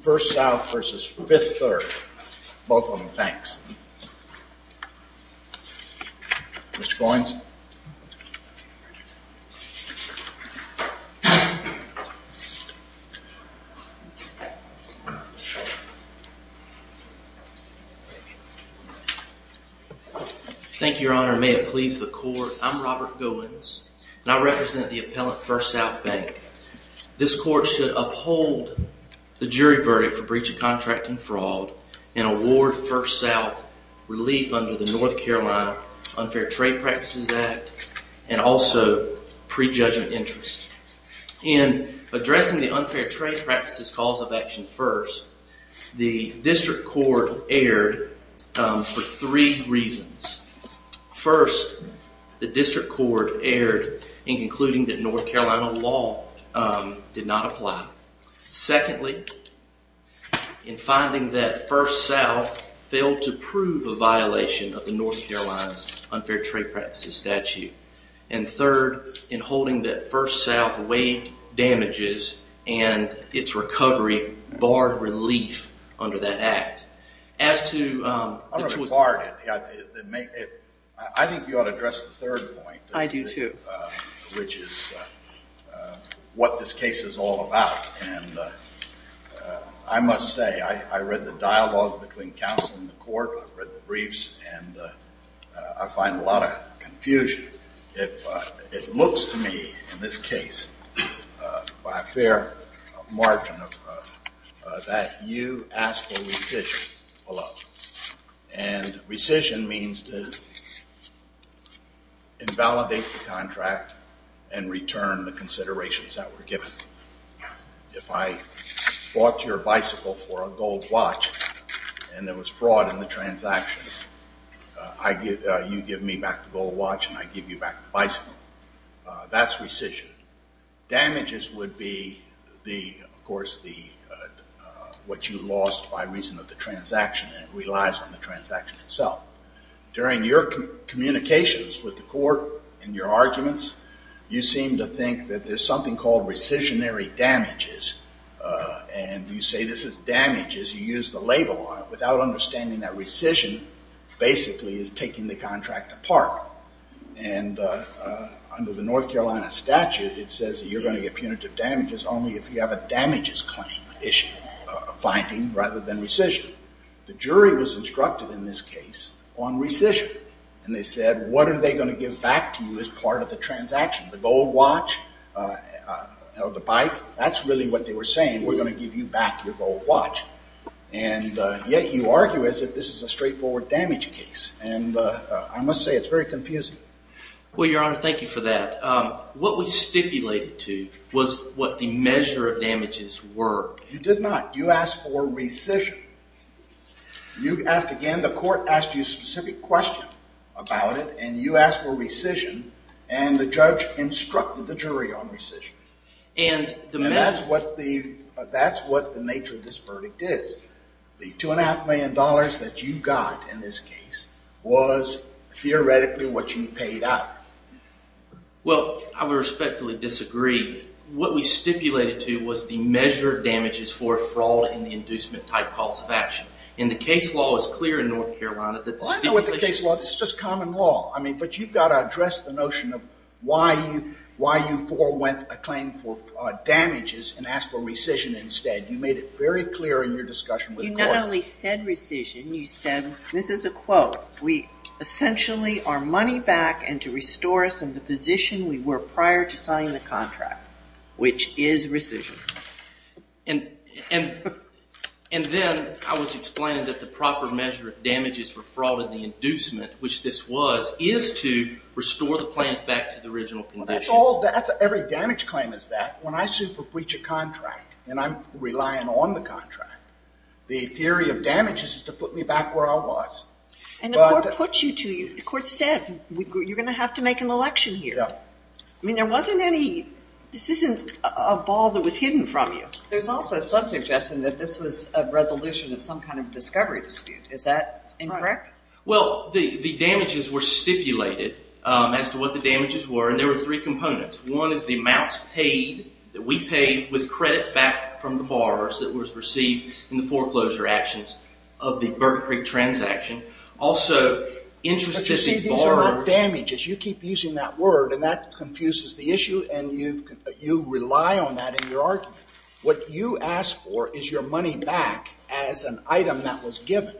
First South v. Fifth Third. Both of them banks. Mr. Goins. Thank you, Your Honor. May it please the court, I'm Robert Goins. And I represent the appellant First South Bank. This court should uphold the jury verdict for breach of contract and fraud and award First South relief under the North Carolina Unfair Trade Practices Act and also prejudgment interest. In addressing the Unfair Trade Practices cause of action first, the district court erred for three reasons. First, the district court erred in concluding that North Carolina law did not apply. Secondly, in finding that First South failed to prove a violation of the North Carolina's Unfair Trade Practices statute. And third, in holding that First South waived damages and its recovery barred relief under that act. I think you ought to address the third point. I do too. Which is what this case is all about. And I must say, I read the dialogue between counsel and the court, I've read the briefs, and I find a lot of confusion. It looks to me, in this case, by a fair margin, that you ask for rescission below. And rescission means to invalidate the contract and return the considerations that were given. If I bought your bicycle for a gold watch and there was fraud in the transaction, you give me back the gold watch and I give you back the bicycle. That's rescission. Damages would be, of course, what you lost by reason of the transaction and it relies on the transaction itself. During your communications with the court in your arguments, you seem to think that there's something called rescissionary damages. And you say this is damages, you use the label on it, without understanding that rescission basically is taking the contract apart. And under the North Carolina statute, it says that you're going to get punitive damages only if you have a damages claim issue, a finding rather than rescission. The jury was instructed in this case on rescission. And they said, what are they going to give back to you as part of the transaction? The gold watch? The bike? That's really what they were saying. We're going to give you back your gold watch. And yet you argue as if this is a straightforward damage case. And I must say, it's very confusing. Well, Your Honor, thank you for that. What we stipulated to was what the measure of damages were. You did not. You asked for rescission. You asked again, the court asked you a specific question about it, and you asked for rescission, and the judge instructed the jury on rescission. And that's what the nature of this verdict is. The $2.5 million that you got in this case was theoretically what you paid out. Well, I would respectfully disagree. What we stipulated to was the measure of damages for a fraud in the inducement-type calls of action. And the case law is clear in North Carolina that the stipulation... Well, I know what the case law is. It's just common law. But you've got to address the notion of why you forewent a claim for damages and asked for rescission instead. You made it very clear in your discussion with the court. You not only said rescission, you said, and this is a quote, we essentially are money back and to restore us in the position we were prior to signing the contract, which is rescission. And then I was explaining that the proper measure of damages for fraud in the inducement, which this was, is to restore the plant back to the original condition. Every damage claim is that. When I sue for breach of contract and I'm relying on the contract, the theory of damages is to put me back where I was. And the court put you to... The court said, you're going to have to make an election here. I mean, there wasn't any... This isn't a ball that was hidden from you. There's also some suggestion that this was a resolution of some kind of discovery dispute. Is that incorrect? Well, the damages were stipulated as to what the damages were, and there were three components. One is the amounts paid, that we paid with credits back from the borrowers that was received in the foreclosure actions of the Burton Creek transaction. Also... But you see, these are not damages. You keep using that word, and that confuses the issue, and you rely on that in your argument. What you asked for is your money back as an item that was given.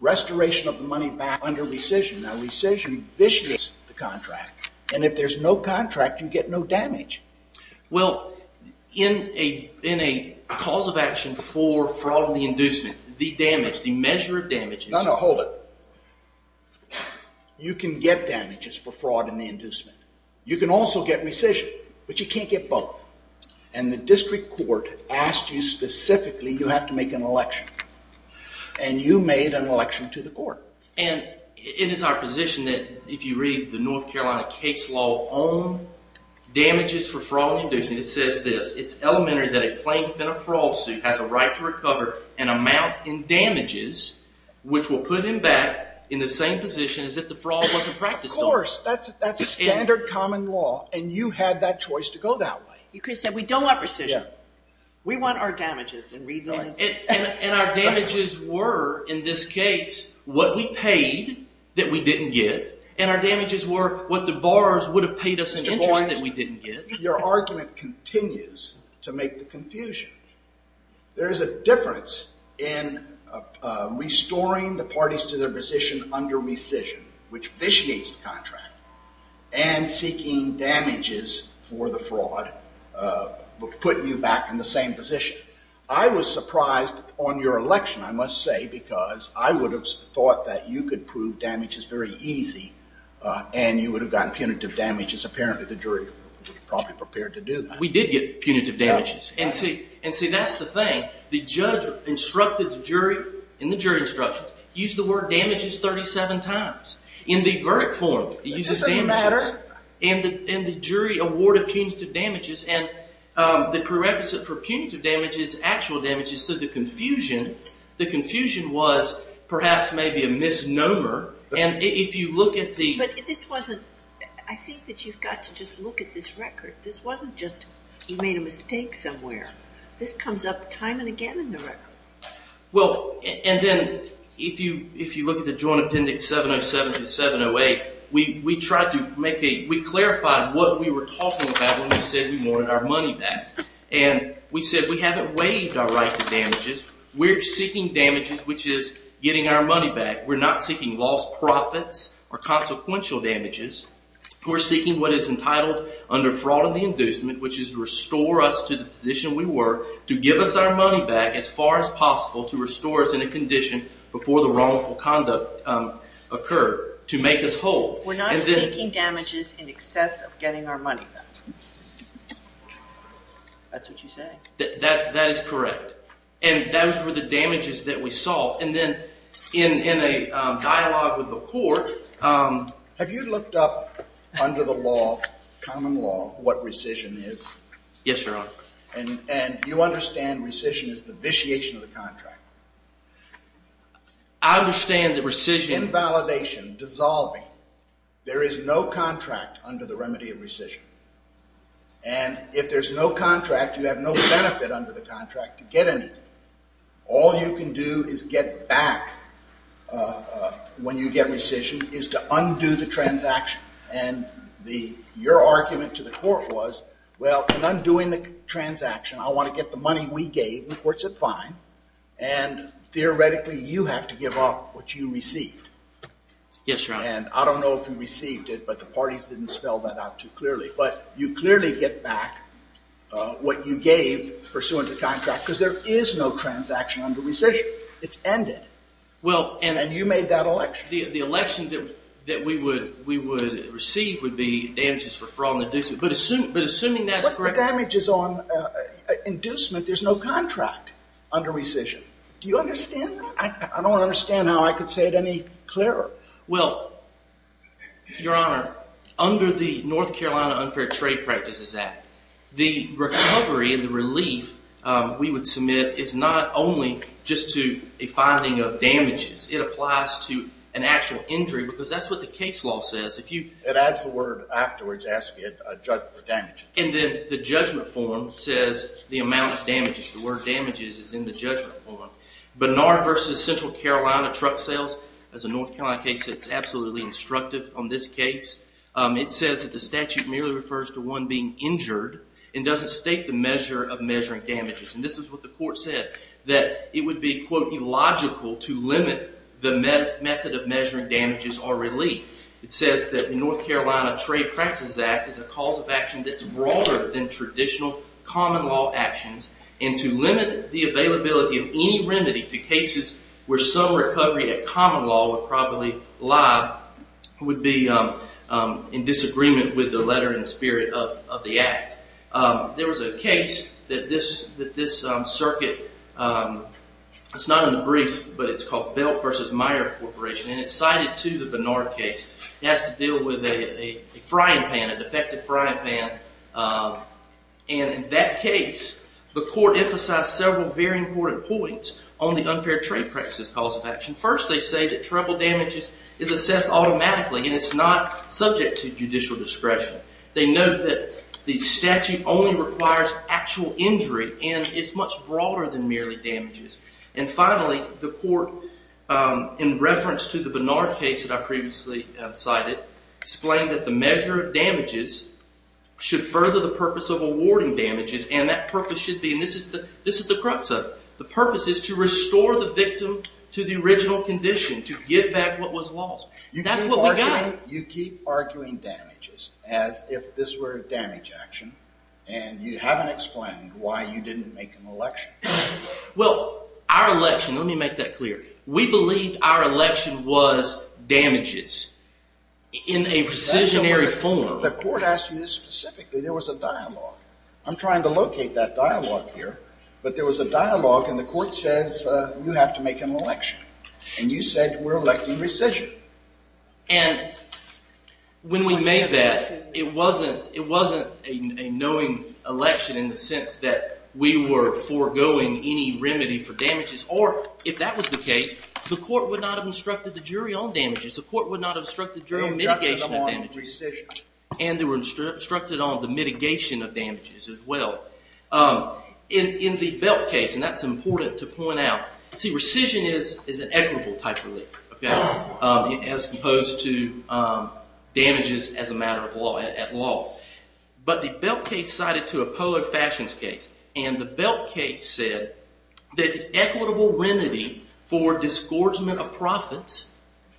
Restoration of the money back under rescission. Now, rescission, this is the contract. And if there's no contract, you get no damage. Well, in a cause of action for fraud and the inducement, the damage, the measure of damage is... No, no, hold it. You can get damages for fraud and the inducement. You can also get rescission, but you can't get both. And the district court asked you specifically, And you made an election to the court. And it is our position that, if you read the North Carolina case law on damages for fraud and inducement, it says this. It's elementary that a plaintiff in a fraud suit has a right to recover an amount in damages, which will put him back in the same position as if the fraud wasn't practiced on him. Of course, that's standard common law. And you had that choice to go that way. You could have said, we don't want rescission. We want our damages. And our damages were, in this case, what we paid that we didn't get. And our damages were what the borrowers would have paid us in interest that we didn't get. Mr. Boynes, your argument continues to make the confusion. There is a difference in restoring the parties to their position under rescission, which vitiates the contract, and seeking damages for the fraud, putting you back in the same position. I was surprised on your election, I must say, because I would have thought that you could prove damages very easy, and you would have gotten punitive damages. Apparently, the jury was probably prepared to do that. We did get punitive damages. And see, that's the thing. The judge instructed the jury in the jury instructions. He used the word damages 37 times. In the veric form, he uses damages. That doesn't matter. And the jury awarded punitive damages. And the prerequisite for punitive damage is actual damages. So the confusion was perhaps maybe a misnomer. But I think that you've got to just look at this record. This wasn't just you made a mistake somewhere. This comes up time and again in the record. Well, and then if you look at the Joint Appendix 707 to 708, we clarified what we were talking about when we said we wanted our money back. And we said we haven't waived our right to damages. We're seeking damages, which is getting our money back. We're not seeking lost profits or consequential damages. We're seeking what is entitled under fraud and the inducement, which is restore us to the position we were, to give us our money back as far as possible, to restore us in a condition before the wrongful conduct occurred, to make us whole. We're not seeking damages in excess of getting our money back. That's what you say. That is correct. And those were the damages that we saw. And then in a dialogue with the court – Have you looked up under the law, common law, what rescission is? Yes, Your Honor. And you understand rescission is the vitiation of the contract? I understand that rescission – There is no contract under the remedy of rescission. And if there's no contract, you have no benefit under the contract to get anything. All you can do is get back when you get rescission is to undo the transaction. And your argument to the court was, well, in undoing the transaction, I want to get the money we gave, and the court said fine. And theoretically, you have to give up what you received. Yes, Your Honor. And I don't know if you received it, but the parties didn't spell that out too clearly. But you clearly get back what you gave pursuant to contract, because there is no transaction under rescission. It's ended. And you made that election. The election that we would receive would be damages for fraud and inducement. But assuming that's correct – What's the damages on inducement? There's no contract under rescission. Do you understand that? I don't understand how I could say it any clearer. Well, Your Honor, under the North Carolina Unfair Trade Practices Act, the recovery and the relief we would submit is not only just to a finding of damages. It applies to an actual injury, because that's what the case law says. It adds the word afterwards asking a judgment for damages. And then the judgment form says the amount of damages. The word damages is in the judgment form. Bernard v. Central Carolina Truck Sales. As a North Carolina case, it's absolutely instructive on this case. It says that the statute merely refers to one being injured and doesn't state the measure of measuring damages. And this is what the court said, that it would be, quote, illogical to limit the method of measuring damages or relief. It says that the North Carolina Trade Practices Act is a cause of action that's broader than traditional common law actions and to limit the availability of any remedy to cases where some recovery at common law would probably lie would be in disagreement with the letter and spirit of the act. There was a case that this circuit, it's not in the briefs, but it's called Belt v. Meyer Corporation, and it's cited to the Bernard case. It has to deal with a frying pan, a defective frying pan. And in that case, the court emphasized several very important points on the unfair trade practices cause of action. First, they say that trouble damages is assessed automatically and it's not subject to judicial discretion. They note that the statute only requires actual injury and it's much broader than merely damages. And finally, the court, in reference to the Bernard case that I previously cited, explained that the measure of damages should further the purpose of awarding damages and that purpose should be, and this is the crux of it, the purpose is to restore the victim to the original condition, to give back what was lost. That's what we got. You keep arguing damages as if this were a damage action and you haven't explained why you didn't make an election. Well, our election, let me make that clear, we believed our election was damages in a rescissionary form. The court asked you this specifically. There was a dialogue. I'm trying to locate that dialogue here, but there was a dialogue and the court says you have to make an election, and you said we're electing rescission. And when we made that, it wasn't a knowing election in the sense that we were foregoing any remedy for damages, or if that was the case, the court would not have instructed the jury on damages. The court would not have instructed the jury on mitigation of damages. And they were instructed on the mitigation of damages as well. In the Belt case, and that's important to point out, see rescission is an equitable type of relief as opposed to damages as a matter of law at law. But the Belt case cited to a Polo Fashions case, and the Belt case said that the equitable remedy for disgorgement of profits,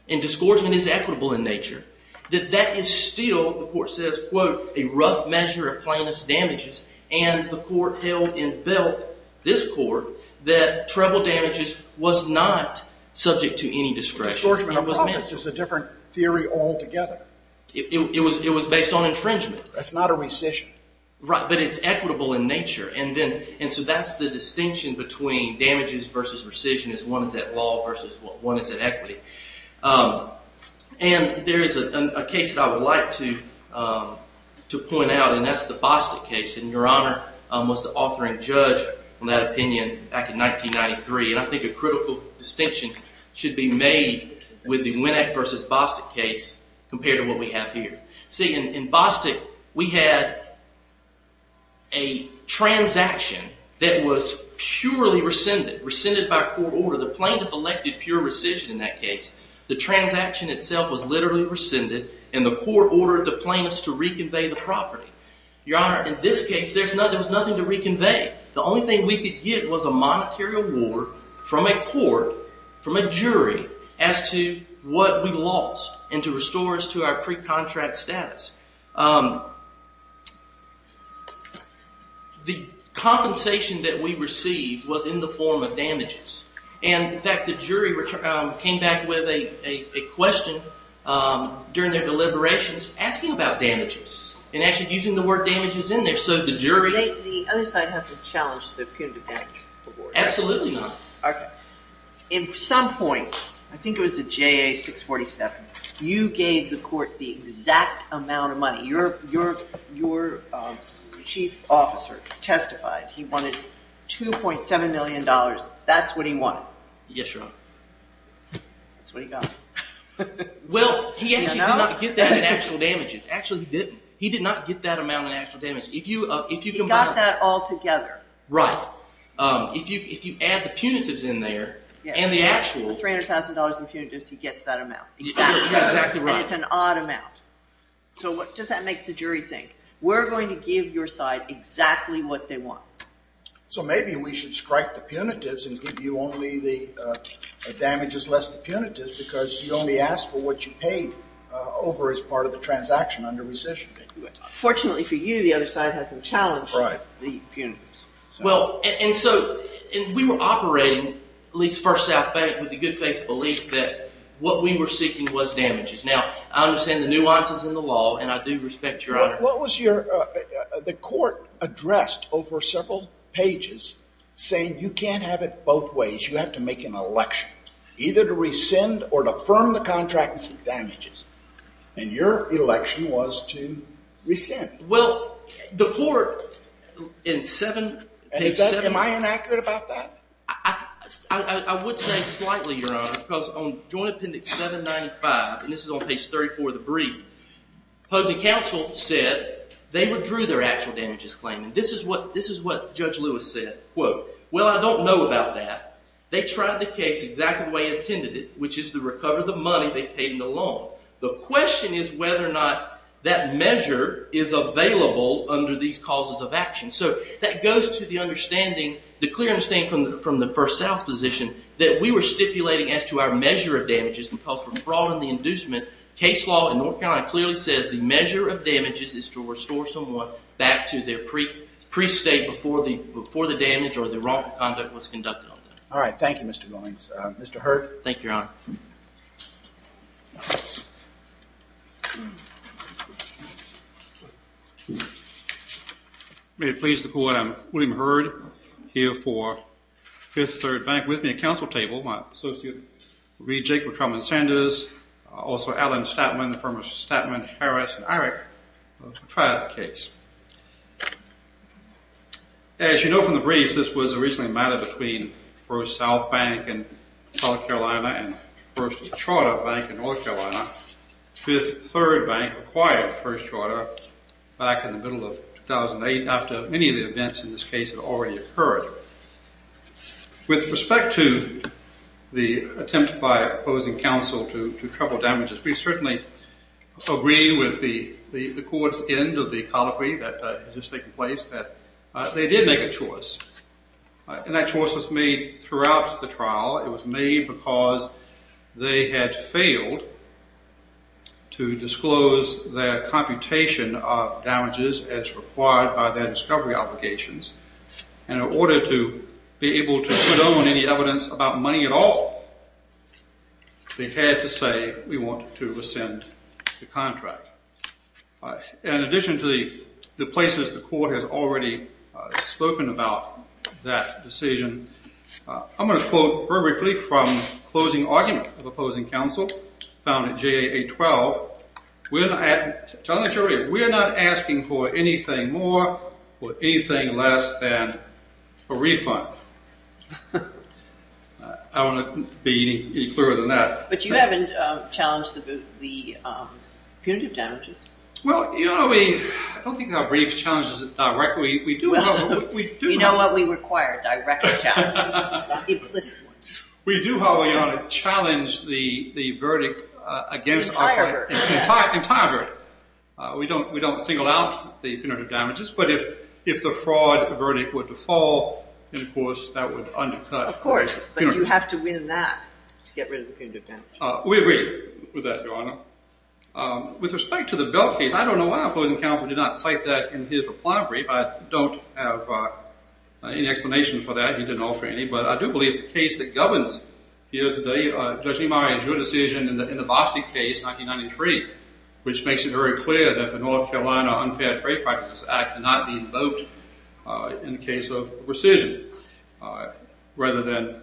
and disgorgement is equitable in nature, that that is still, the court says, quote, a rough measure of plaintiff's damages, and the court held in Belt, this court, that treble damages was not subject to any discretion. Disgorgement of profits is a different theory altogether. It was based on infringement. That's not a rescission. But it's equitable in nature. And so that's the distinction between damages versus rescission is one is at law versus one is at equity. And there is a case that I would like to point out, and that's the Bostic case. And Your Honor was the authoring judge on that opinion back in 1993. And I think a critical distinction should be made with the Winnack versus Bostic case compared to what we have here. See, in Bostic, we had a transaction that was purely rescinded, rescinded by court order. The plaintiff elected pure rescission in that case. The transaction itself was literally rescinded, and the court ordered the plaintiffs to reconvey the property. Your Honor, in this case, there was nothing to reconvey. The only thing we could get was a monetary award from a court, from a jury, as to what we lost, and to restore us to our pre-contract status. The compensation that we received was in the form of damages. And, in fact, the jury came back with a question during their deliberations asking about damages and actually using the word damages in there. So the jury... The other side hasn't challenged the punitive damage award. Absolutely not. In some point, I think it was the JA 647, you gave the court the exact amount of money. Your chief officer testified he wanted $2.7 million. That's what he wanted. Yes, Your Honor. That's what he got. Well, he actually did not get that in actual damages. Actually, he didn't. He did not get that amount in actual damages. He got that all together. Right. If you add the punitives in there and the actual... $300,000 in punitives, he gets that amount. Exactly. And it's an odd amount. So what does that make the jury think? We're going to give your side exactly what they want. So maybe we should strike the punitives and give you only the damages less the punitives because you only asked for what you paid over as part of the transaction under rescission. Fortunately for you, the other side hasn't challenged the punitives. Well, and so we were operating, at least First South Bank, with the good faith belief that what we were seeking was damages. Now, I understand the nuances in the law, and I do respect your honor. What was your... The court addressed over several pages saying you can't have it both ways. You have to make an election, either to rescind or to firm the contract and seek damages. And your election was to rescind. Well, the court in 7... Am I inaccurate about that? I would say slightly, your honor, because on Joint Appendix 795, and this is on page 34 of the brief, opposing counsel said they withdrew their actual damages claim. This is what Judge Lewis said, quote, Well, I don't know about that. They tried the case exactly the way they intended it, which is to recover the money they paid in the loan. The question is whether or not that measure is available under these causes of action. So that goes to the understanding, the clear understanding from the First South position that we were stipulating as to our measure of damages imposed from fraud and the inducement. Case law in North Carolina clearly says the measure of damages is to restore someone back to their pre-state before the damage or the wrongful conduct was conducted on them. Mr. Hurd. Thank you, your honor. May it please the court, I'm William Hurd, here for Fifth Third Bank with me at counsel table, my associate Reed Jacob, Trumman Sanders, also Alan Statman, the former Statman, Harris, and Irick, who tried the case. As you know from the briefs, this was originally a matter between First South Bank in South Carolina and First Charter Bank in North Carolina. Fifth Third Bank acquired First Charter back in the middle of 2008 after many of the events in this case had already occurred. With respect to the attempt by opposing counsel to trouble damages, we certainly agree with the court's end of the colloquy that has just taken place that they did make a choice. And that choice was made throughout the trial. It was made because they had failed to disclose their computation of damages as required by their discovery obligations. And in order to be able to put on any evidence about money at all, they had to say, we want to rescind the contract. In addition to the places the court has already spoken about that decision, I'm going to quote very briefly from the closing argument of opposing counsel, found at JA 812. We're not asking for anything more or anything less than a refund. I don't want to be any clearer than that. But you haven't challenged the punitive damages. Well, you know, I don't think our briefs challenge this directly. You know what we require, direct challenges, not implicit ones. We do, however, Your Honor, challenge the verdict against... Entire verdict. Entire verdict. We don't single out the punitive damages. But if the fraud verdict were to fall, then of course that would undercut... Of course. But you have to win that to get rid of the punitive damages. We agree with that, Your Honor. With respect to the Belk case, I don't know why opposing counsel did not cite that in his reply brief. I don't have any explanation for that. He didn't offer any. But I do believe the case that governs here today, Judge Nimari, is your decision in the Boston case, 1993, which makes it very clear that the North Carolina Unfair Trade Practices Act cannot be invoked in the case of rescission rather than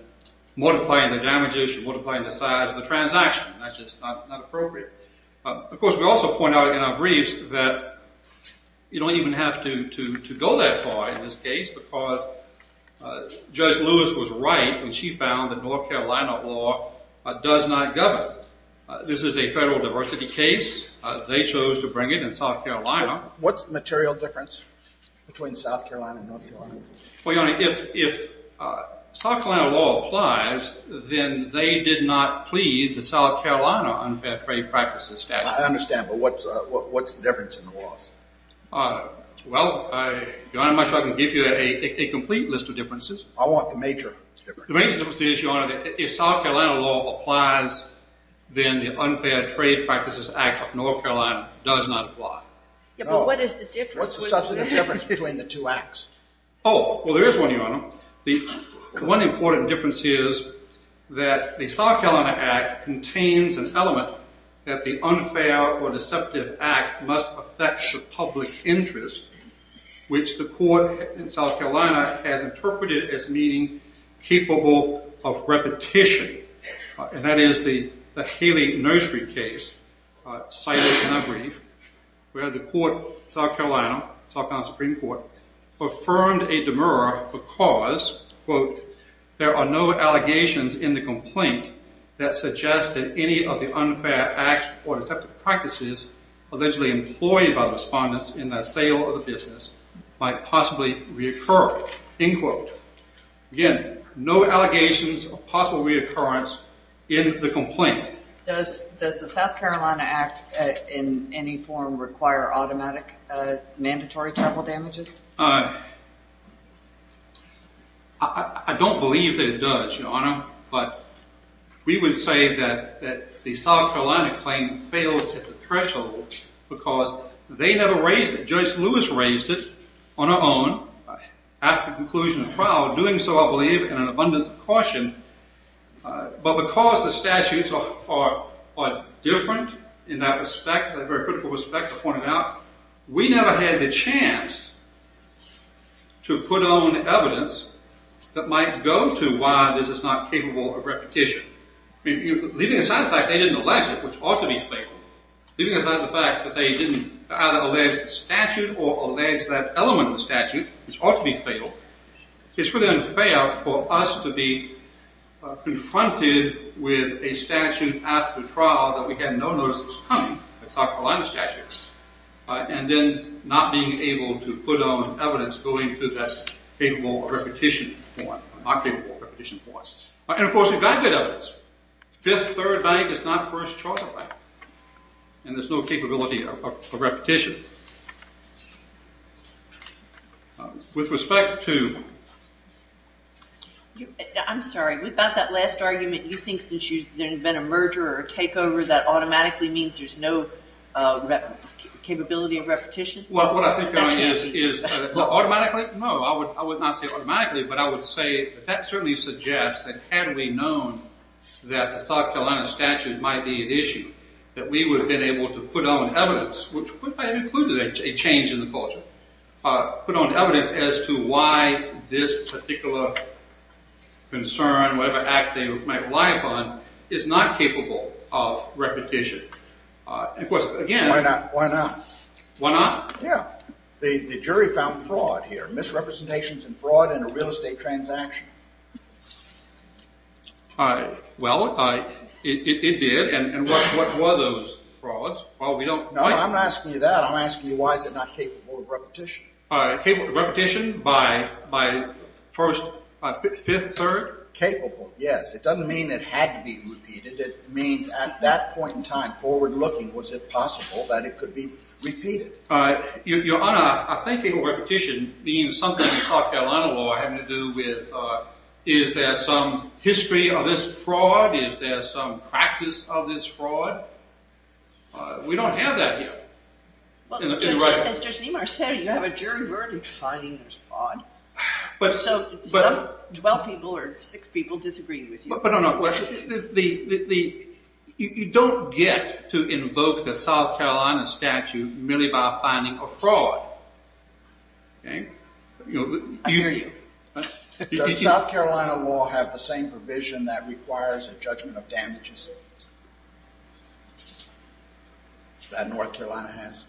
multiplying the damages or multiplying the size of the transaction. That's just not appropriate. Of course, we also point out in our briefs that you don't even have to go that far in this case because Judge Lewis was right when she found that North Carolina law does not govern. This is a federal diversity case. They chose to bring it in South Carolina. What's the material difference between South Carolina and North Carolina? Well, Your Honor, if South Carolina law applies, then they did not plead the South Carolina Unfair Trade Practices statute. I understand, but what's the difference in the laws? Well, Your Honor, I'm not sure I can give you a complete list of differences. I want the major difference. The major difference is, Your Honor, if South Carolina law applies, then the Unfair Trade Practices Act of North Carolina does not apply. Yeah, but what is the difference? What's the substantive difference between the two acts? Oh, well, there is one, Your Honor. The one important difference is that the South Carolina Act contains an element that the Unfair or Deceptive Act must affect the public interest, which the court in South Carolina has interpreted as meaning capable of repetition, and that is the Haley Nursery case cited in our brief where the court in South Carolina, South Carolina Supreme Court, affirmed a demur because, quote, there are no allegations in the complaint that suggest that any of the unfair act or deceptive practices allegedly employed by respondents in the sale of the business might possibly reoccur, end quote. Again, no allegations of possible reoccurrence in the complaint. Does the South Carolina Act in any form require automatic mandatory travel damages? I don't believe that it does, Your Honor, but we would say that the South Carolina claim fails at the threshold because they never raised it. Judge Lewis raised it on her own after conclusion of trial, but because the statutes are different in that respect, a very critical respect to point out, we never had the chance to put on evidence that might go to why this is not capable of repetition. Leaving aside the fact they didn't allege it, which ought to be fatal, leaving aside the fact that they didn't either allege the statute or allege that element of the statute, which ought to be fatal, it's really unfair for us to be confronted with a statute after trial that we had no notice was coming, the South Carolina statute, and then not being able to put on evidence going to that capable of repetition form, not capable of repetition form. And, of course, we've got good evidence. Fifth Third Bank is not First Charter Bank, and there's no capability of repetition. With respect to... I'm sorry, about that last argument, you think since there's been a merger or a takeover, that automatically means there's no capability of repetition? Well, what I think is... Automatically? No, I would not say automatically, but I would say that certainly suggests that had we known that the South Carolina statute might be at issue, that we would have been able to put on evidence, which might have included a change in the culture, put on evidence as to why this particular concern, whatever act they might rely upon, is not capable of repetition. Of course, again... Why not? Why not? Yeah. The jury found fraud here, misrepresentations and fraud in a real estate transaction. Well, it did, and what were those frauds? Well, we don't... No, I'm not asking you that. I'm asking you why is it not capable of repetition? Capable of repetition by First... Fifth Third? Capable, yes. It doesn't mean it had to be repeated. It means at that point in time, forward-looking, was it possible that it could be repeated? Your Honor, I think capable of repetition means something the South Carolina law had to do with is there some history of this fraud? Is there some practice of this fraud? We don't have that here. As Judge Niemeyer said, you have a jury verdict for finding this fraud, so some 12 people or 6 people disagree with you. But, no, no, you don't get to invoke the South Carolina statute merely by finding a fraud. I hear you. Does South Carolina law have the same provision that requires a judgment of damages? That North Carolina has?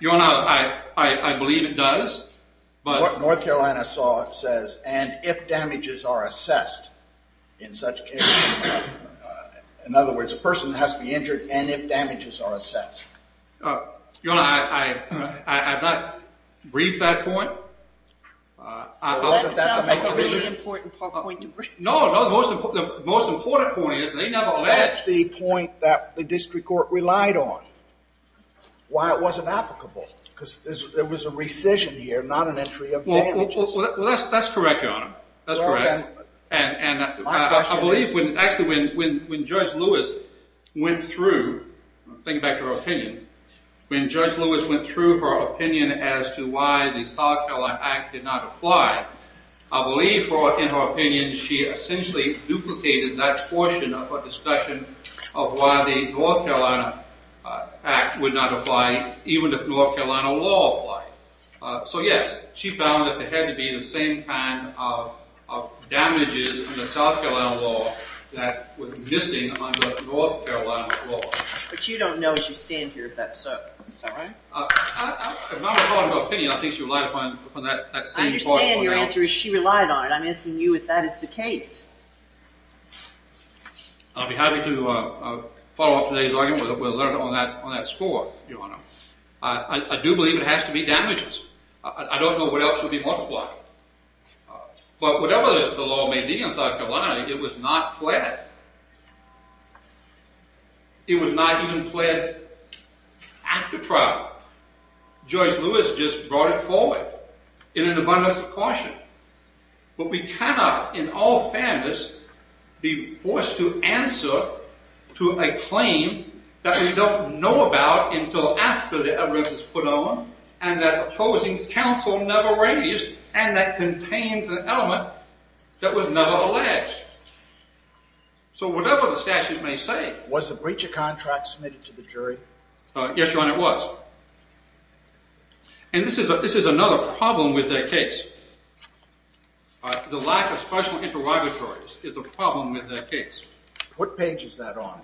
Your Honor, I believe it does, but... What North Carolina says, and if damages are assessed in such cases... In other words, a person has to be injured and if damages are assessed. Your Honor, I've not briefed that point. Well, that sounds like a really important point to bring. No, no, the most important point is they never let... That's the point that the district court relied on. Why it wasn't applicable. Because there was a rescission here, not an entry of damages. Well, that's correct, Your Honor. That's correct. And I believe, actually, when Judge Lewis went through, thinking back to her opinion, when Judge Lewis went through her opinion as to why the South Carolina Act did not apply, I believe, in her opinion, she essentially duplicated that portion of her discussion of why the North Carolina Act would not apply even if North Carolina law applied. So, yes, she found that there had to be the same kind of damages in the South Carolina law that was missing under North Carolina law. But you don't know, as you stand here, if that's so. Is that right? I'm not at all in her opinion. I think she relied upon that same point. I understand your answer is she relied on it. I'm asking you if that is the case. I'll be happy to follow up today's argument with a letter on that score, Your Honor. I do believe it has to be damages. I don't know what else would be multiplied. But whatever the law may be in South Carolina, it was not pled. It was not even pled after trial. Judge Lewis just brought it forward in an abundance of caution. But we cannot, in all fairness, be forced to answer to a claim that we don't know about until after the evidence is put on and that opposing counsel never raised and that contains an element that was never alleged. So whatever the statute may say... Was the breacher contract submitted to the jury? Yes, Your Honor, it was. And this is another problem with that case. The lack of special interrogatories is the problem with that case. What page is that on?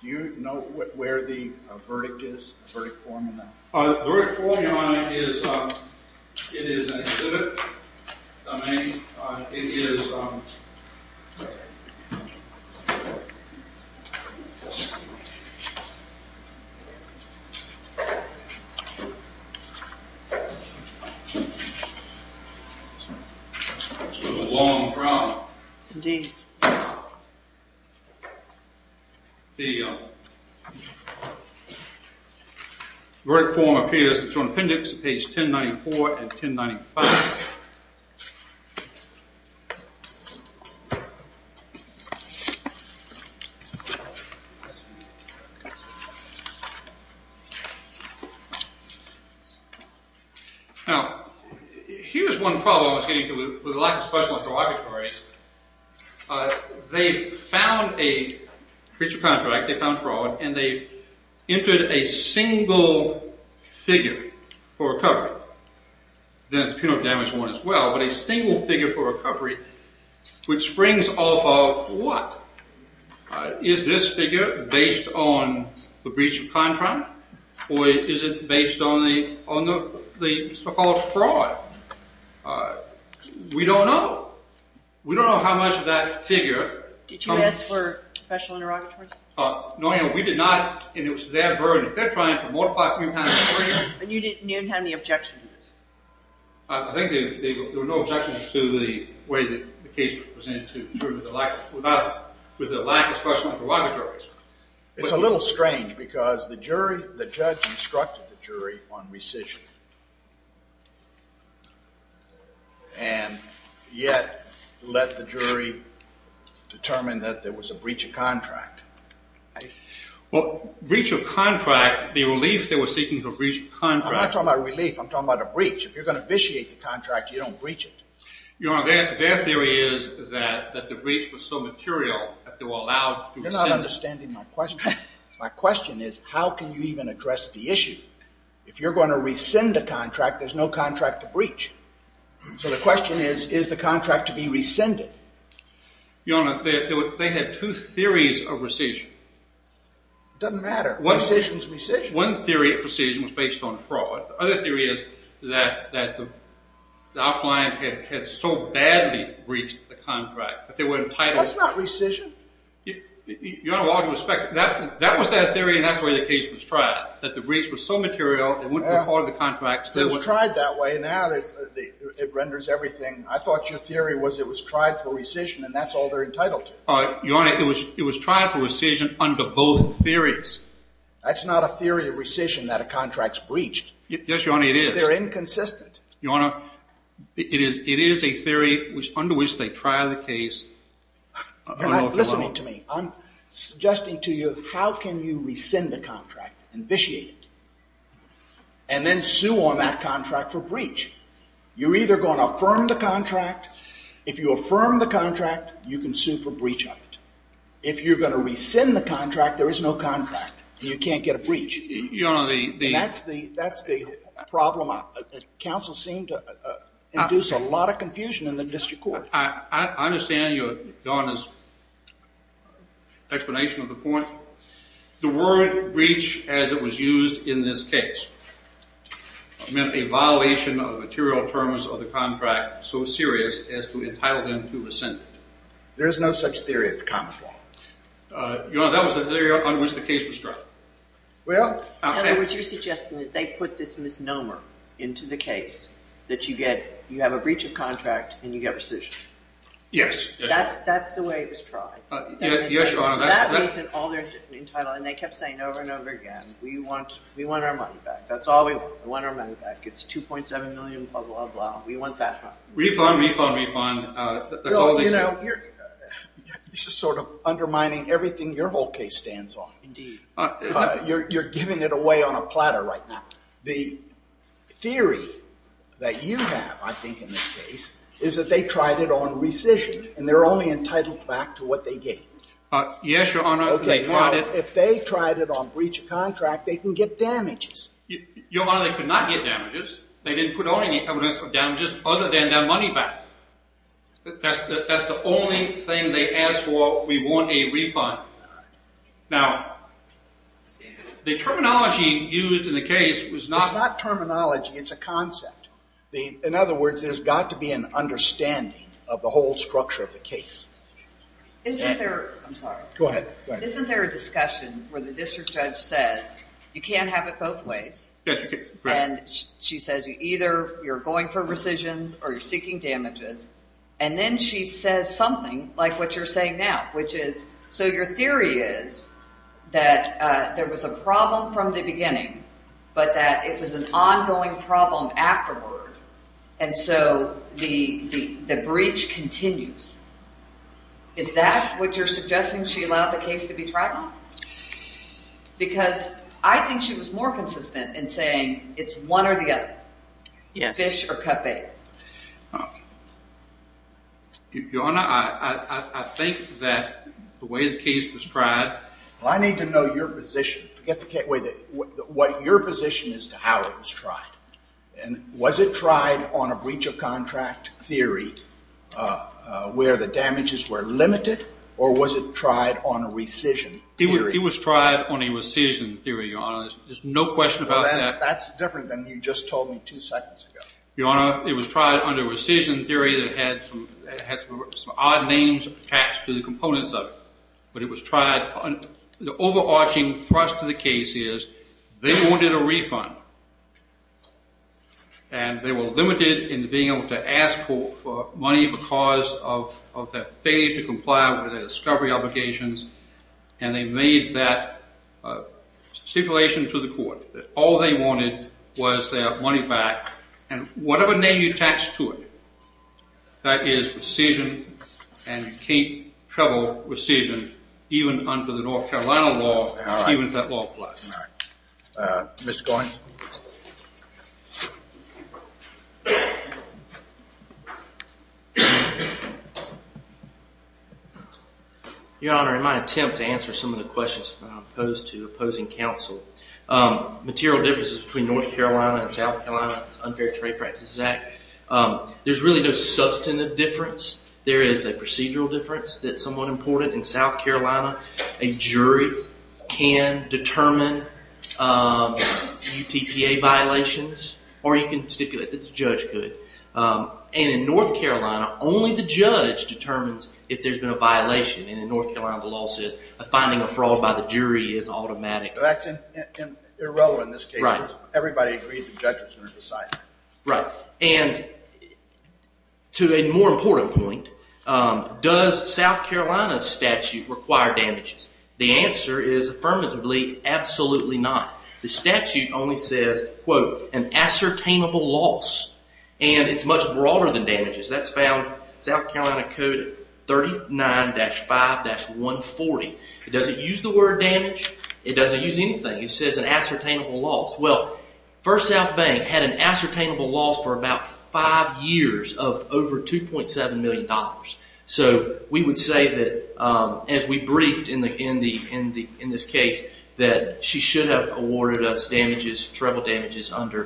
Do you know where the verdict is, the verdict form in that? The verdict form, Your Honor, is... It is an exhibit. It is... It's a long problem. Indeed. The verdict form appears. It's on appendix page 1094 and 1095. Now, here's one problem I was getting to with the lack of special interrogatories. They found a breacher contract, they found fraud, and they entered a single figure for recovery. It's a breach of contract. It's a breach of contract. But a single figure for recovery, which springs off of what? Is this figure based on the breach of contract or is it based on the so-called fraud? We don't know. We don't know how much of that figure... Did you ask for special interrogatories? No, Your Honor, we did not. And it was their burden. They're trying to multiply... And you didn't have any objection to this? I think there were no objections to the way the case was presented to the jury with the lack of special interrogatories. It's a little strange because the jury, the judge instructed the jury on rescission and yet let the jury determine that there was a breach of contract. Well, breach of contract, the relief they were seeking for breach of contract... I'm not talking about relief. I'm talking about a breach. If you're going to vitiate the contract, you don't breach it. Your Honor, their theory is that the breach was so material that they were allowed to rescind it. You're not understanding my question. My question is how can you even address the issue? If you're going to rescind a contract, there's no contract to breach. So the question is, is the contract to be rescinded? Your Honor, they had two theories of rescission. It doesn't matter. Rescission is rescission. One theory of rescission was based on fraud. The other theory is that our client had so badly breached the contract that they were entitled... That's not rescission. Your Honor, with all due respect, that was their theory and that's the way the case was tried, that the breach was so material it wouldn't be part of the contract. It was tried that way. Now it renders everything... I thought your theory was it was tried for rescission and that's all they're entitled to. Your Honor, it was tried for rescission under both theories. That's not a theory of rescission that a contract's breached. Yes, Your Honor, it is. They're inconsistent. Your Honor, it is a theory under which they try the case... You're not listening to me. I'm suggesting to you how can you rescind a contract, vitiate it, and then sue on that contract for breach? You're either going to affirm the contract. If you affirm the contract, you can sue for breach of it. If you're going to rescind the contract, there is no contract. You can't get a breach. Your Honor, the... That's the problem. Counsel seemed to induce a lot of confusion in the district court. I understand your explanation of the point. The word breach, as it was used in this case, meant a violation of the material terms of the contract so serious as to entitle them to rescind it. There is no such theory of the common law. Your Honor, that was the theory under which the case was tried. Well, in other words, you're suggesting that they put this misnomer into the case, that you have a breach of contract and you get rescission. Yes. That's the way it was tried. Yes, Your Honor. That reason, all they're entitled, and they kept saying over and over again, we want our money back. That's all we want. We want our money back. It's $2.7 million, blah, blah, blah. We want that money. Refund, refund, refund. That's all they said. You're just sort of undermining everything your whole case stands on. Indeed. You're giving it away on a platter right now. The theory that you have, I think, in this case, is that they tried it on rescission, and they're only entitled back to what they gave. Yes, Your Honor, they tried it. Now, if they tried it on breach of contract, they can get damages. Your Honor, they could not get damages. They didn't put on any evidence of damages other than their money back. That's the only thing they asked for. We want a refund. Now, the terminology used in the case was not... It's not terminology. It's a concept. In other words, there's got to be an understanding of the whole structure of the case. Isn't there... I'm sorry. Go ahead. Isn't there a discussion where the district judge says, you can't have it both ways. Yes, you can. And she says, either you're going for rescissions or you're seeking damages. And then she says something like what you're saying now, which is, so your theory is that there was a problem from the beginning, but that it was an ongoing problem afterward, and so the breach continues. Is that what you're suggesting she allowed the case to be tried on? Because I think she was more consistent in saying it's one or the other. Fish or cut bait. Your Honor, I think that the way the case was tried... I need to know your position. What your position is to how it was tried. Was it tried on a breach of contract theory where the damages were limited, or was it tried on a rescission theory? It was tried on a rescission theory, Your Honor. There's no question about that. That's different than you just told me two seconds ago. Your Honor, it was tried on a rescission theory that had some odd names attached to the components of it. But it was tried... The overarching thrust of the case is they wanted a refund, and they were limited in being able to ask for money because of their failure to comply with their discovery obligations, and they made that stipulation to the court that all they wanted was their money back. And whatever name you attached to it, that is rescission, and you can't trouble rescission even under the North Carolina law, even if that law applies. All right. Ms. Goins? Your Honor, in my attempt to answer some of the questions posed to opposing counsel, material differences between North Carolina and South Carolina under the Trade Practices Act, there's really no substantive difference. There is a procedural difference that's somewhat important. In South Carolina, a jury can determine UTPA violations, or you can stipulate that the judge could. And in North Carolina, only the judge determines if there's been a violation. And in North Carolina, the law says finding a fraud by the jury is automatic. That's irrelevant in this case. Right. Everybody agrees the judge is going to decide. Right. And to a more important point, does South Carolina's statute require damages? The answer is affirmatively absolutely not. The statute only says, quote, an ascertainable loss, and it's much broader than damages. That's found in South Carolina Code 39-5-140. It doesn't use the word damage. It doesn't use anything. It says an ascertainable loss. Well, First South Bank had an ascertainable loss for about five years of over $2.7 million. So we would say that, as we briefed in this case, that she should have awarded us damages, treble damages, under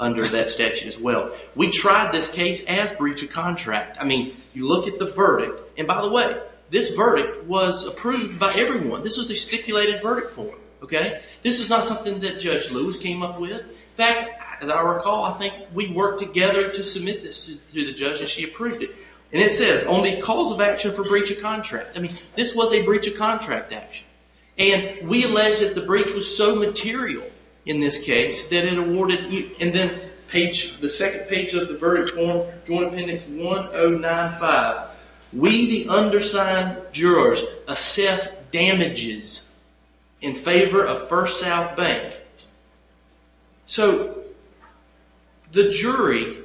that statute as well. So we tried this case as breach of contract. I mean, you look at the verdict. And by the way, this verdict was approved by everyone. This was a stipulated verdict form. This is not something that Judge Lewis came up with. In fact, as I recall, I think we worked together to submit this to the judge, and she approved it. And it says, only cause of action for breach of contract. I mean, this was a breach of contract action. And we alleged that the breach was so material in this case that it awarded you. And then the second page of the verdict form, Joint Appendix 1095, we, the undersigned jurors, assess damages in favor of First South Bank. So the jury,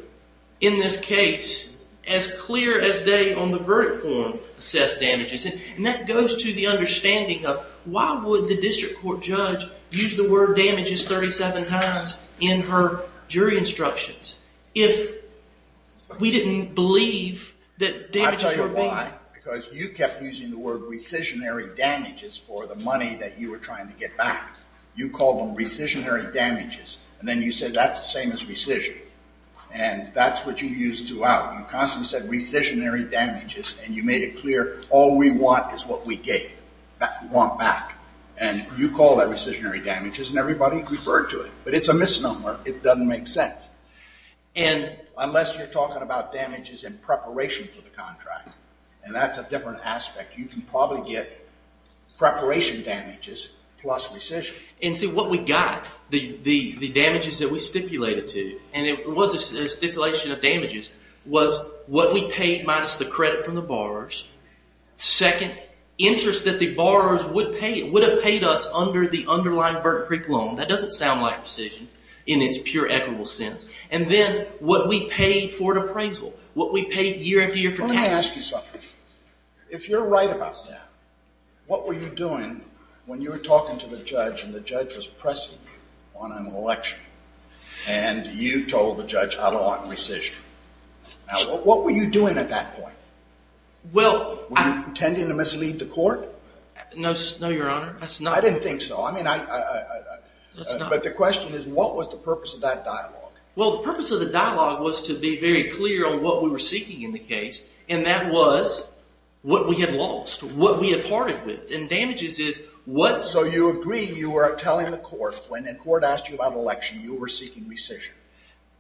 in this case, as clear as day on the verdict form, assessed damages. And that goes to the understanding of, why would the district court judge use the word damages 37 times in her jury instructions if we didn't believe that damages were being used? I'll tell you why. Because you kept using the word rescissionary damages for the money that you were trying to get back. You called them rescissionary damages. And then you said, that's the same as rescission. And that's what you used throughout. You constantly said rescissionary damages, and you made it clear all we want is what we gave, what we want back. And you call that rescissionary damages, and everybody referred to it. But it's a misnomer. It doesn't make sense. Unless you're talking about damages in preparation for the contract, and that's a different aspect, you can probably get preparation damages plus rescission. And see, what we got, the damages that we stipulated to, and it was a stipulation of damages, was what we paid minus the credit from the borrowers. Second, interest that the borrowers would have paid us under the underlying Burton Creek loan. That doesn't sound like rescission in its pure equitable sense. And then what we paid for an appraisal, what we paid year after year for taxes. Let me ask you something. If you're right about that, what were you doing when you were talking to the judge, and the judge was pressing you on an election, and you told the judge, I don't want rescission. Now, what were you doing at that point? Were you intending to mislead the court? No, Your Honor. I didn't think so. But the question is, what was the purpose of that dialogue? Well, the purpose of the dialogue was to be very clear on what we were seeking in the case, and that was what we had lost, what we had parted with. And damages is what... So you agree you were telling the court, when the court asked you about election, you were seeking rescission.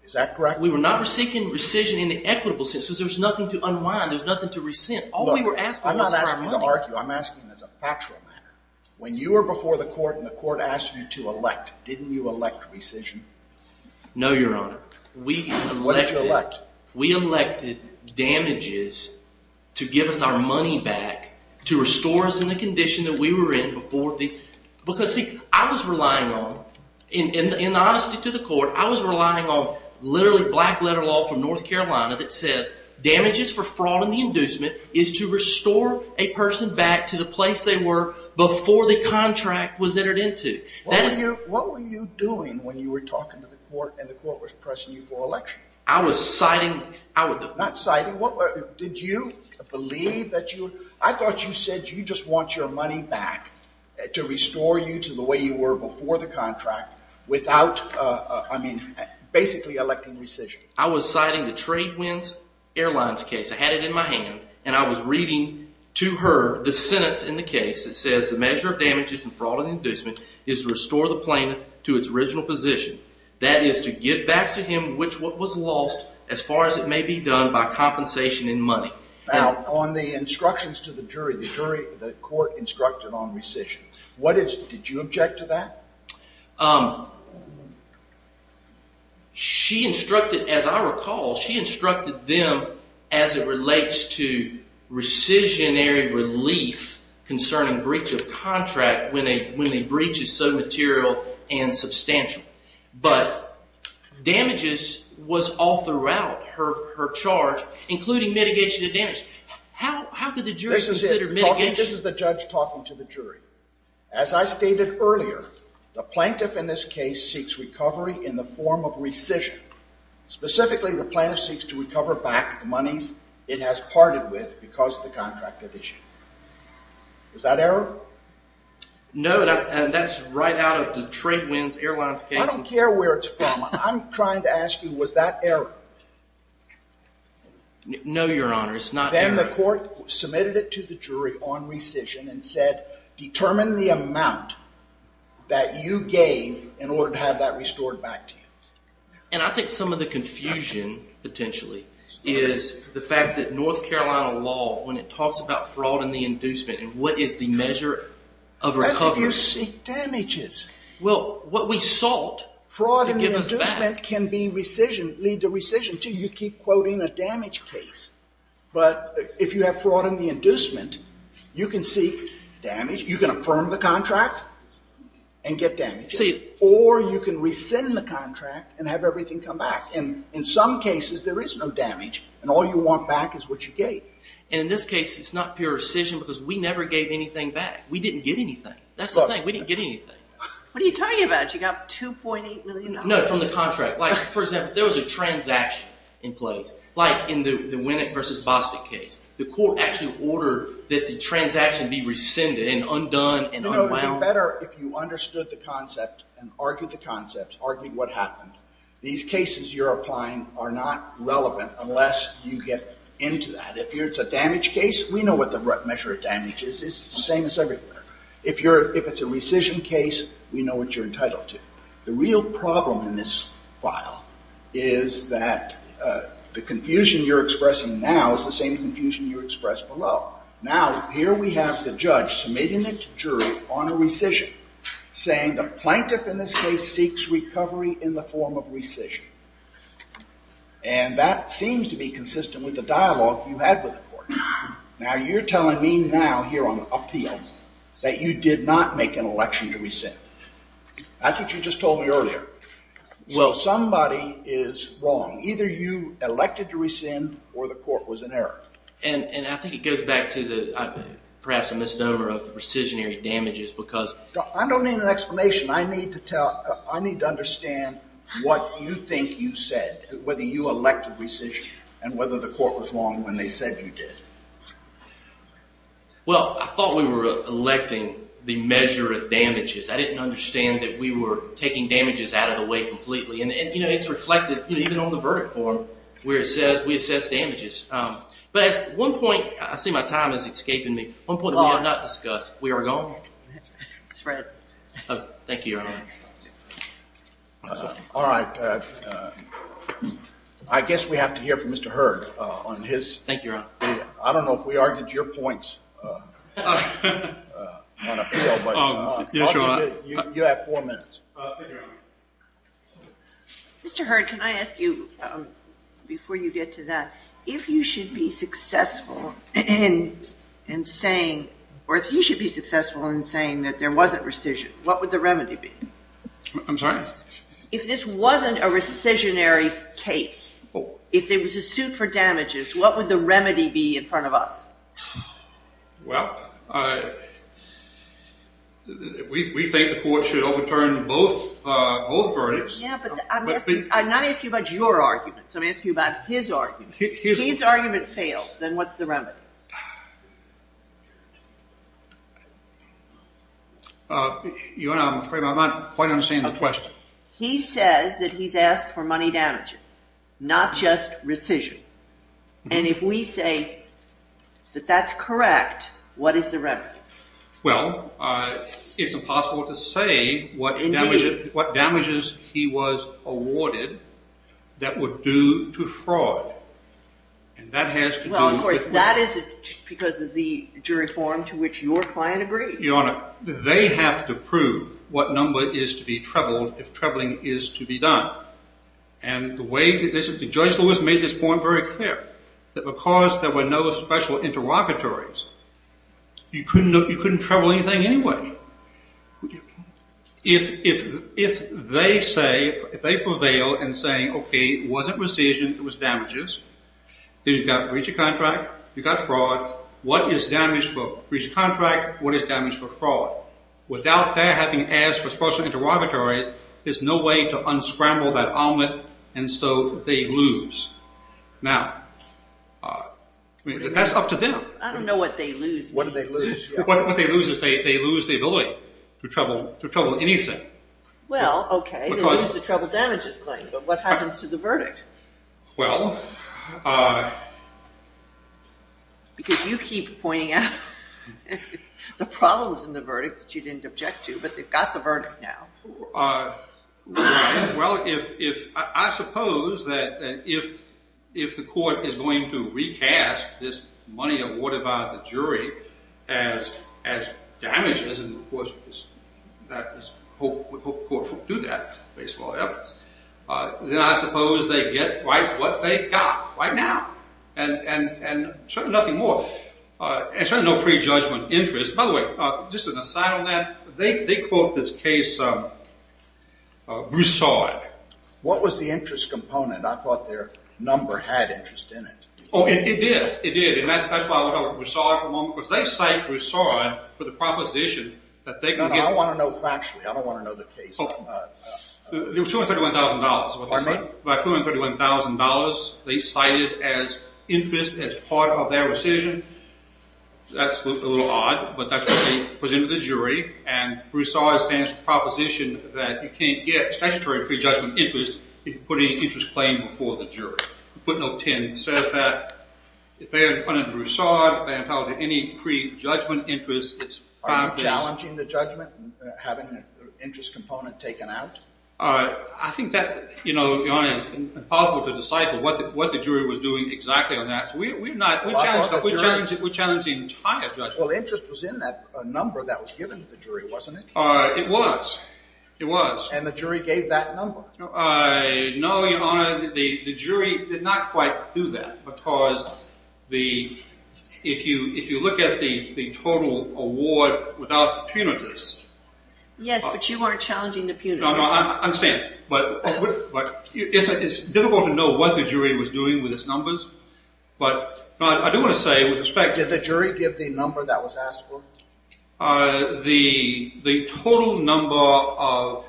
Is that correct? We were not seeking rescission in the equitable sense, because there was nothing to unwind, there was nothing to resent. All we were asking was our money. Look, I'm not asking you to argue. I'm asking as a factual matter. When you were before the court, and the court asked you to elect, didn't you elect rescission? No, Your Honor. We elected... What did you elect? We elected damages to give us our money back, to restore us in the condition that we were in before the... Because, see, I was relying on, in honesty to the court, I was relying on literally black-letter law from North Carolina that says damages for fraud in the inducement is to restore a person back to the place they were before the contract was entered into. What were you doing when you were talking to the court and the court was pressing you for election? I was citing... Not citing. Did you believe that you... I thought you said you just want your money back to restore you to the way you were before the contract without, I mean, basically electing rescission. I was citing the Tradewinds Airlines case. I had it in my hand, and I was reading to her the sentence in the case that says the measure of damages and fraud in the inducement is to restore the plaintiff to its original position. That is to give back to him what was lost as far as it may be done by compensation in money. Now, on the instructions to the jury, the court instructed on rescission. Did you object to that? She instructed, as I recall, she instructed them as it relates to rescissionary relief concerning breach of contract when the breach is so material and substantial. But damages was all throughout her charge, including mitigation of damage. How could the jury consider mitigation? This is the judge talking to the jury. As I stated earlier, the plaintiff in this case seeks recovery in the form of rescission. Specifically, the plaintiff seeks to recover back the monies it has parted with because of the contract issue. Was that error? No, and that's right out of the Tradewinds Airlines case. I don't care where it's from. I'm trying to ask you, was that error? No, Your Honor. Then the court submitted it to the jury on rescission and said, determine the amount that you gave in order to have that restored back to you. And I think some of the confusion, potentially, is the fact that North Carolina law, when it talks about fraud and the inducement, and what is the measure of recovery. That's if you seek damages. Well, what we sought to give us back. Fraud and the inducement can lead to rescission, too. You keep quoting a damage case. But if you have fraud and the inducement, you can seek damage. You can affirm the contract and get damages. Or you can rescind the contract and have everything come back. And in some cases, there is no damage. And all you want back is what you gave. And in this case, it's not pure rescission because we never gave anything back. We didn't get anything. That's the thing. We didn't get anything. What are you talking about? You got $2.8 million? No, from the contract. Like, for example, there was a transaction in place. Like in the Winnet versus Bostic case. The court actually ordered that the transaction be rescinded and undone and unwound. No, no. It would be better if you understood the concept and argued the concept, argued what happened. These cases you're applying are not relevant unless you get into that. If it's a damage case, we know what the measure of damage is. It's the same as everywhere. If it's a rescission case, we know what you're entitled to. The real problem in this file is that the confusion you're expressing now is the same confusion you expressed below. Now, here we have the judge submitting it to jury on a rescission, saying the plaintiff in this case seeks recovery in the form of rescission. And that seems to be consistent with the dialogue you had with the court. Now, you're telling me now here on appeal that you did not make an election to rescind. That's what you just told me earlier. So somebody is wrong. Either you elected to rescind or the court was in error. And I think it goes back to perhaps a misnomer of rescissionary damages because I don't need an explanation. I need to understand what you think you said, whether you elected rescission, and whether the court was wrong when they said you did. Well, I thought we were electing the measure of damages. I didn't understand that we were taking damages out of the way completely. And it's reflected even on the verdict form where it says we assess damages. But at one point, I see my time is escaping me, one point that we have not discussed. We are going? Thank you, Your Honor. All right. I guess we have to hear from Mr. Hurd on his. Thank you, Your Honor. I don't know if we argued your points on appeal. You have four minutes. Mr. Hurd, can I ask you, before you get to that, if you should be successful in saying or if you should be successful in saying that there wasn't rescission, what would the remedy be? I'm sorry? If this wasn't a rescissionary case, if there was a suit for damages, what would the remedy be in front of us? Well, we think the court should overturn both verdicts. Yeah, but I'm not asking you about your arguments. I'm asking you about his arguments. If his argument fails, then what's the remedy? Your Honor, I'm afraid I'm not quite understanding the question. He says that he's asked for money damages, not just rescission. And if we say that that's correct, what is the remedy? Well, it's impossible to say what damages he was awarded that would do to fraud. And that has to do with... Well, of course, that is because of the jury form to which your client agreed. Your Honor, they have to prove what number is to be trebled if trebling is to be done. And Judge Lewis made this point very clear, that because there were no special interrogatories, you couldn't treble anything anyway. If they prevail in saying, okay, it wasn't rescission, it was damages, then you've got breach of contract, you've got fraud. What is damage for breach of contract? What is damage for fraud? Without their having asked for special interrogatories, there's no way to unscramble that omelet, and so they lose. Now, that's up to them. I don't know what they lose. What do they lose? What they lose is they lose the ability to treble anything. Well, okay, they lose the treble damages claim, but what happens to the verdict? Well... Because you keep pointing out the problems in the verdict that you didn't object to, but they've got the verdict now. Well, I suppose that if the court is going to recast this money awarded by the jury as damages, and, of course, the court will do that based on all evidence, then I suppose they get right what they got right now, and certainly nothing more. And certainly no prejudgment interest. By the way, just an aside on that, they quote this case, Broussard. What was the interest component? I thought their number had interest in it. Oh, it did. It did. And that's why we call it Broussard for a moment, because they cite Broussard for the proposition that they can get... No, no, I want to know factually. I don't want to know the case. It was $231,000. Pardon me? About $231,000. They cite it as interest as part of their decision. That's a little odd, but that's what they presented to the jury, and Broussard stands for the proposition that you can't get statutory prejudgment interest if you put any interest claim before the jury. Footnote 10 says that if they had put in Broussard, if they had held any prejudgment interest... Are you challenging the judgment, having the interest component taken out? I think that, you know, is impossible to decipher, what the jury was doing exactly on that. We challenge the entire judgment. Well, interest was in that number that was given to the jury, wasn't it? It was. It was. And the jury gave that number? No, Your Honor, the jury did not quite do that, because if you look at the total award without the punitives... Yes, but you weren't challenging the punitives. No, no, I understand, but it's difficult to know what the jury was doing with its numbers, but I do want to say, with respect... Did the jury give the number that was asked for? The total number of...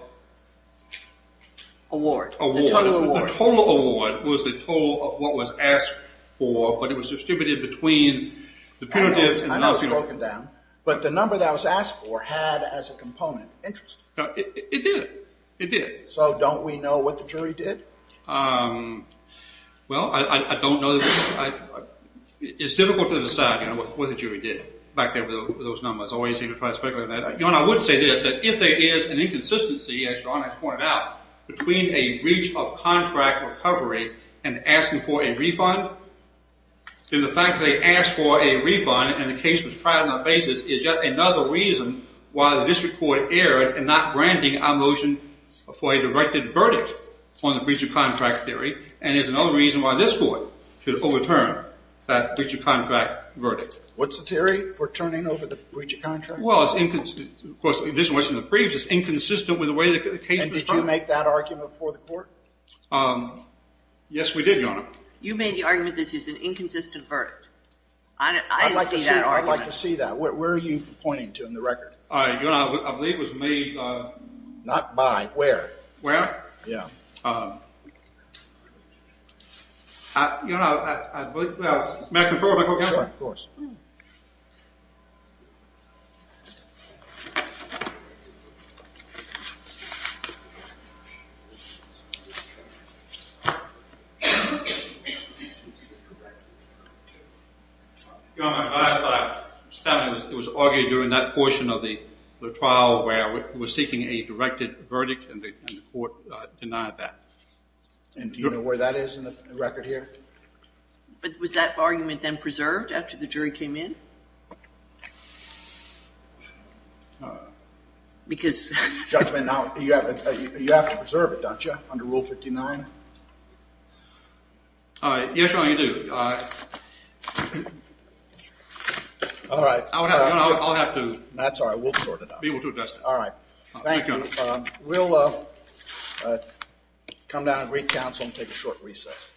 Award. The total award. The total award was the total of what was asked for, but it was distributed between the punitives... I know it was broken down, but the number that was asked for had, as a component, interest. It did. It did. So don't we know what the jury did? Well, I don't know. It's difficult to decide, Your Honor, what the jury did back there with those numbers. I always hate to try to speculate on that. Your Honor, I would say this, that if there is an inconsistency, as Your Honor has pointed out, between a breach of contract recovery and asking for a refund, then the fact that they asked for a refund and the case was tried on that basis is yet another reason why the district court erred in not granting our motion for a directed verdict on the breach of contract theory, and is another reason why this court should overturn that breach of contract verdict. What's the theory for turning over the breach of contract? Well, it's inconsistent... Of course, in addition to what's in the briefs, it's inconsistent with the way the case was tried. And did you make that argument before the court? Yes, we did, Your Honor. You made the argument that this is an inconsistent verdict. I see that, Your Honor. I'd like to see that. Where are you pointing to in the record? Your Honor, I believe it was made... Not by. Where? Where? Yeah. Uh... Your Honor, I believe... May I confirm? Of course. Your Honor, last time it was argued during that portion of the trial where it was seeking a directed verdict and the court denied that. And do you know where that is in the record here? But was that argument then preserved after the jury came in? Uh... Because... Judge, you have to preserve it, don't you, under Rule 59? Yes, Your Honor, you do. All right. I'll have to... That's all right. We'll sort it out. All right. Thank you. We'll, uh... Come down and recount and take a short recess.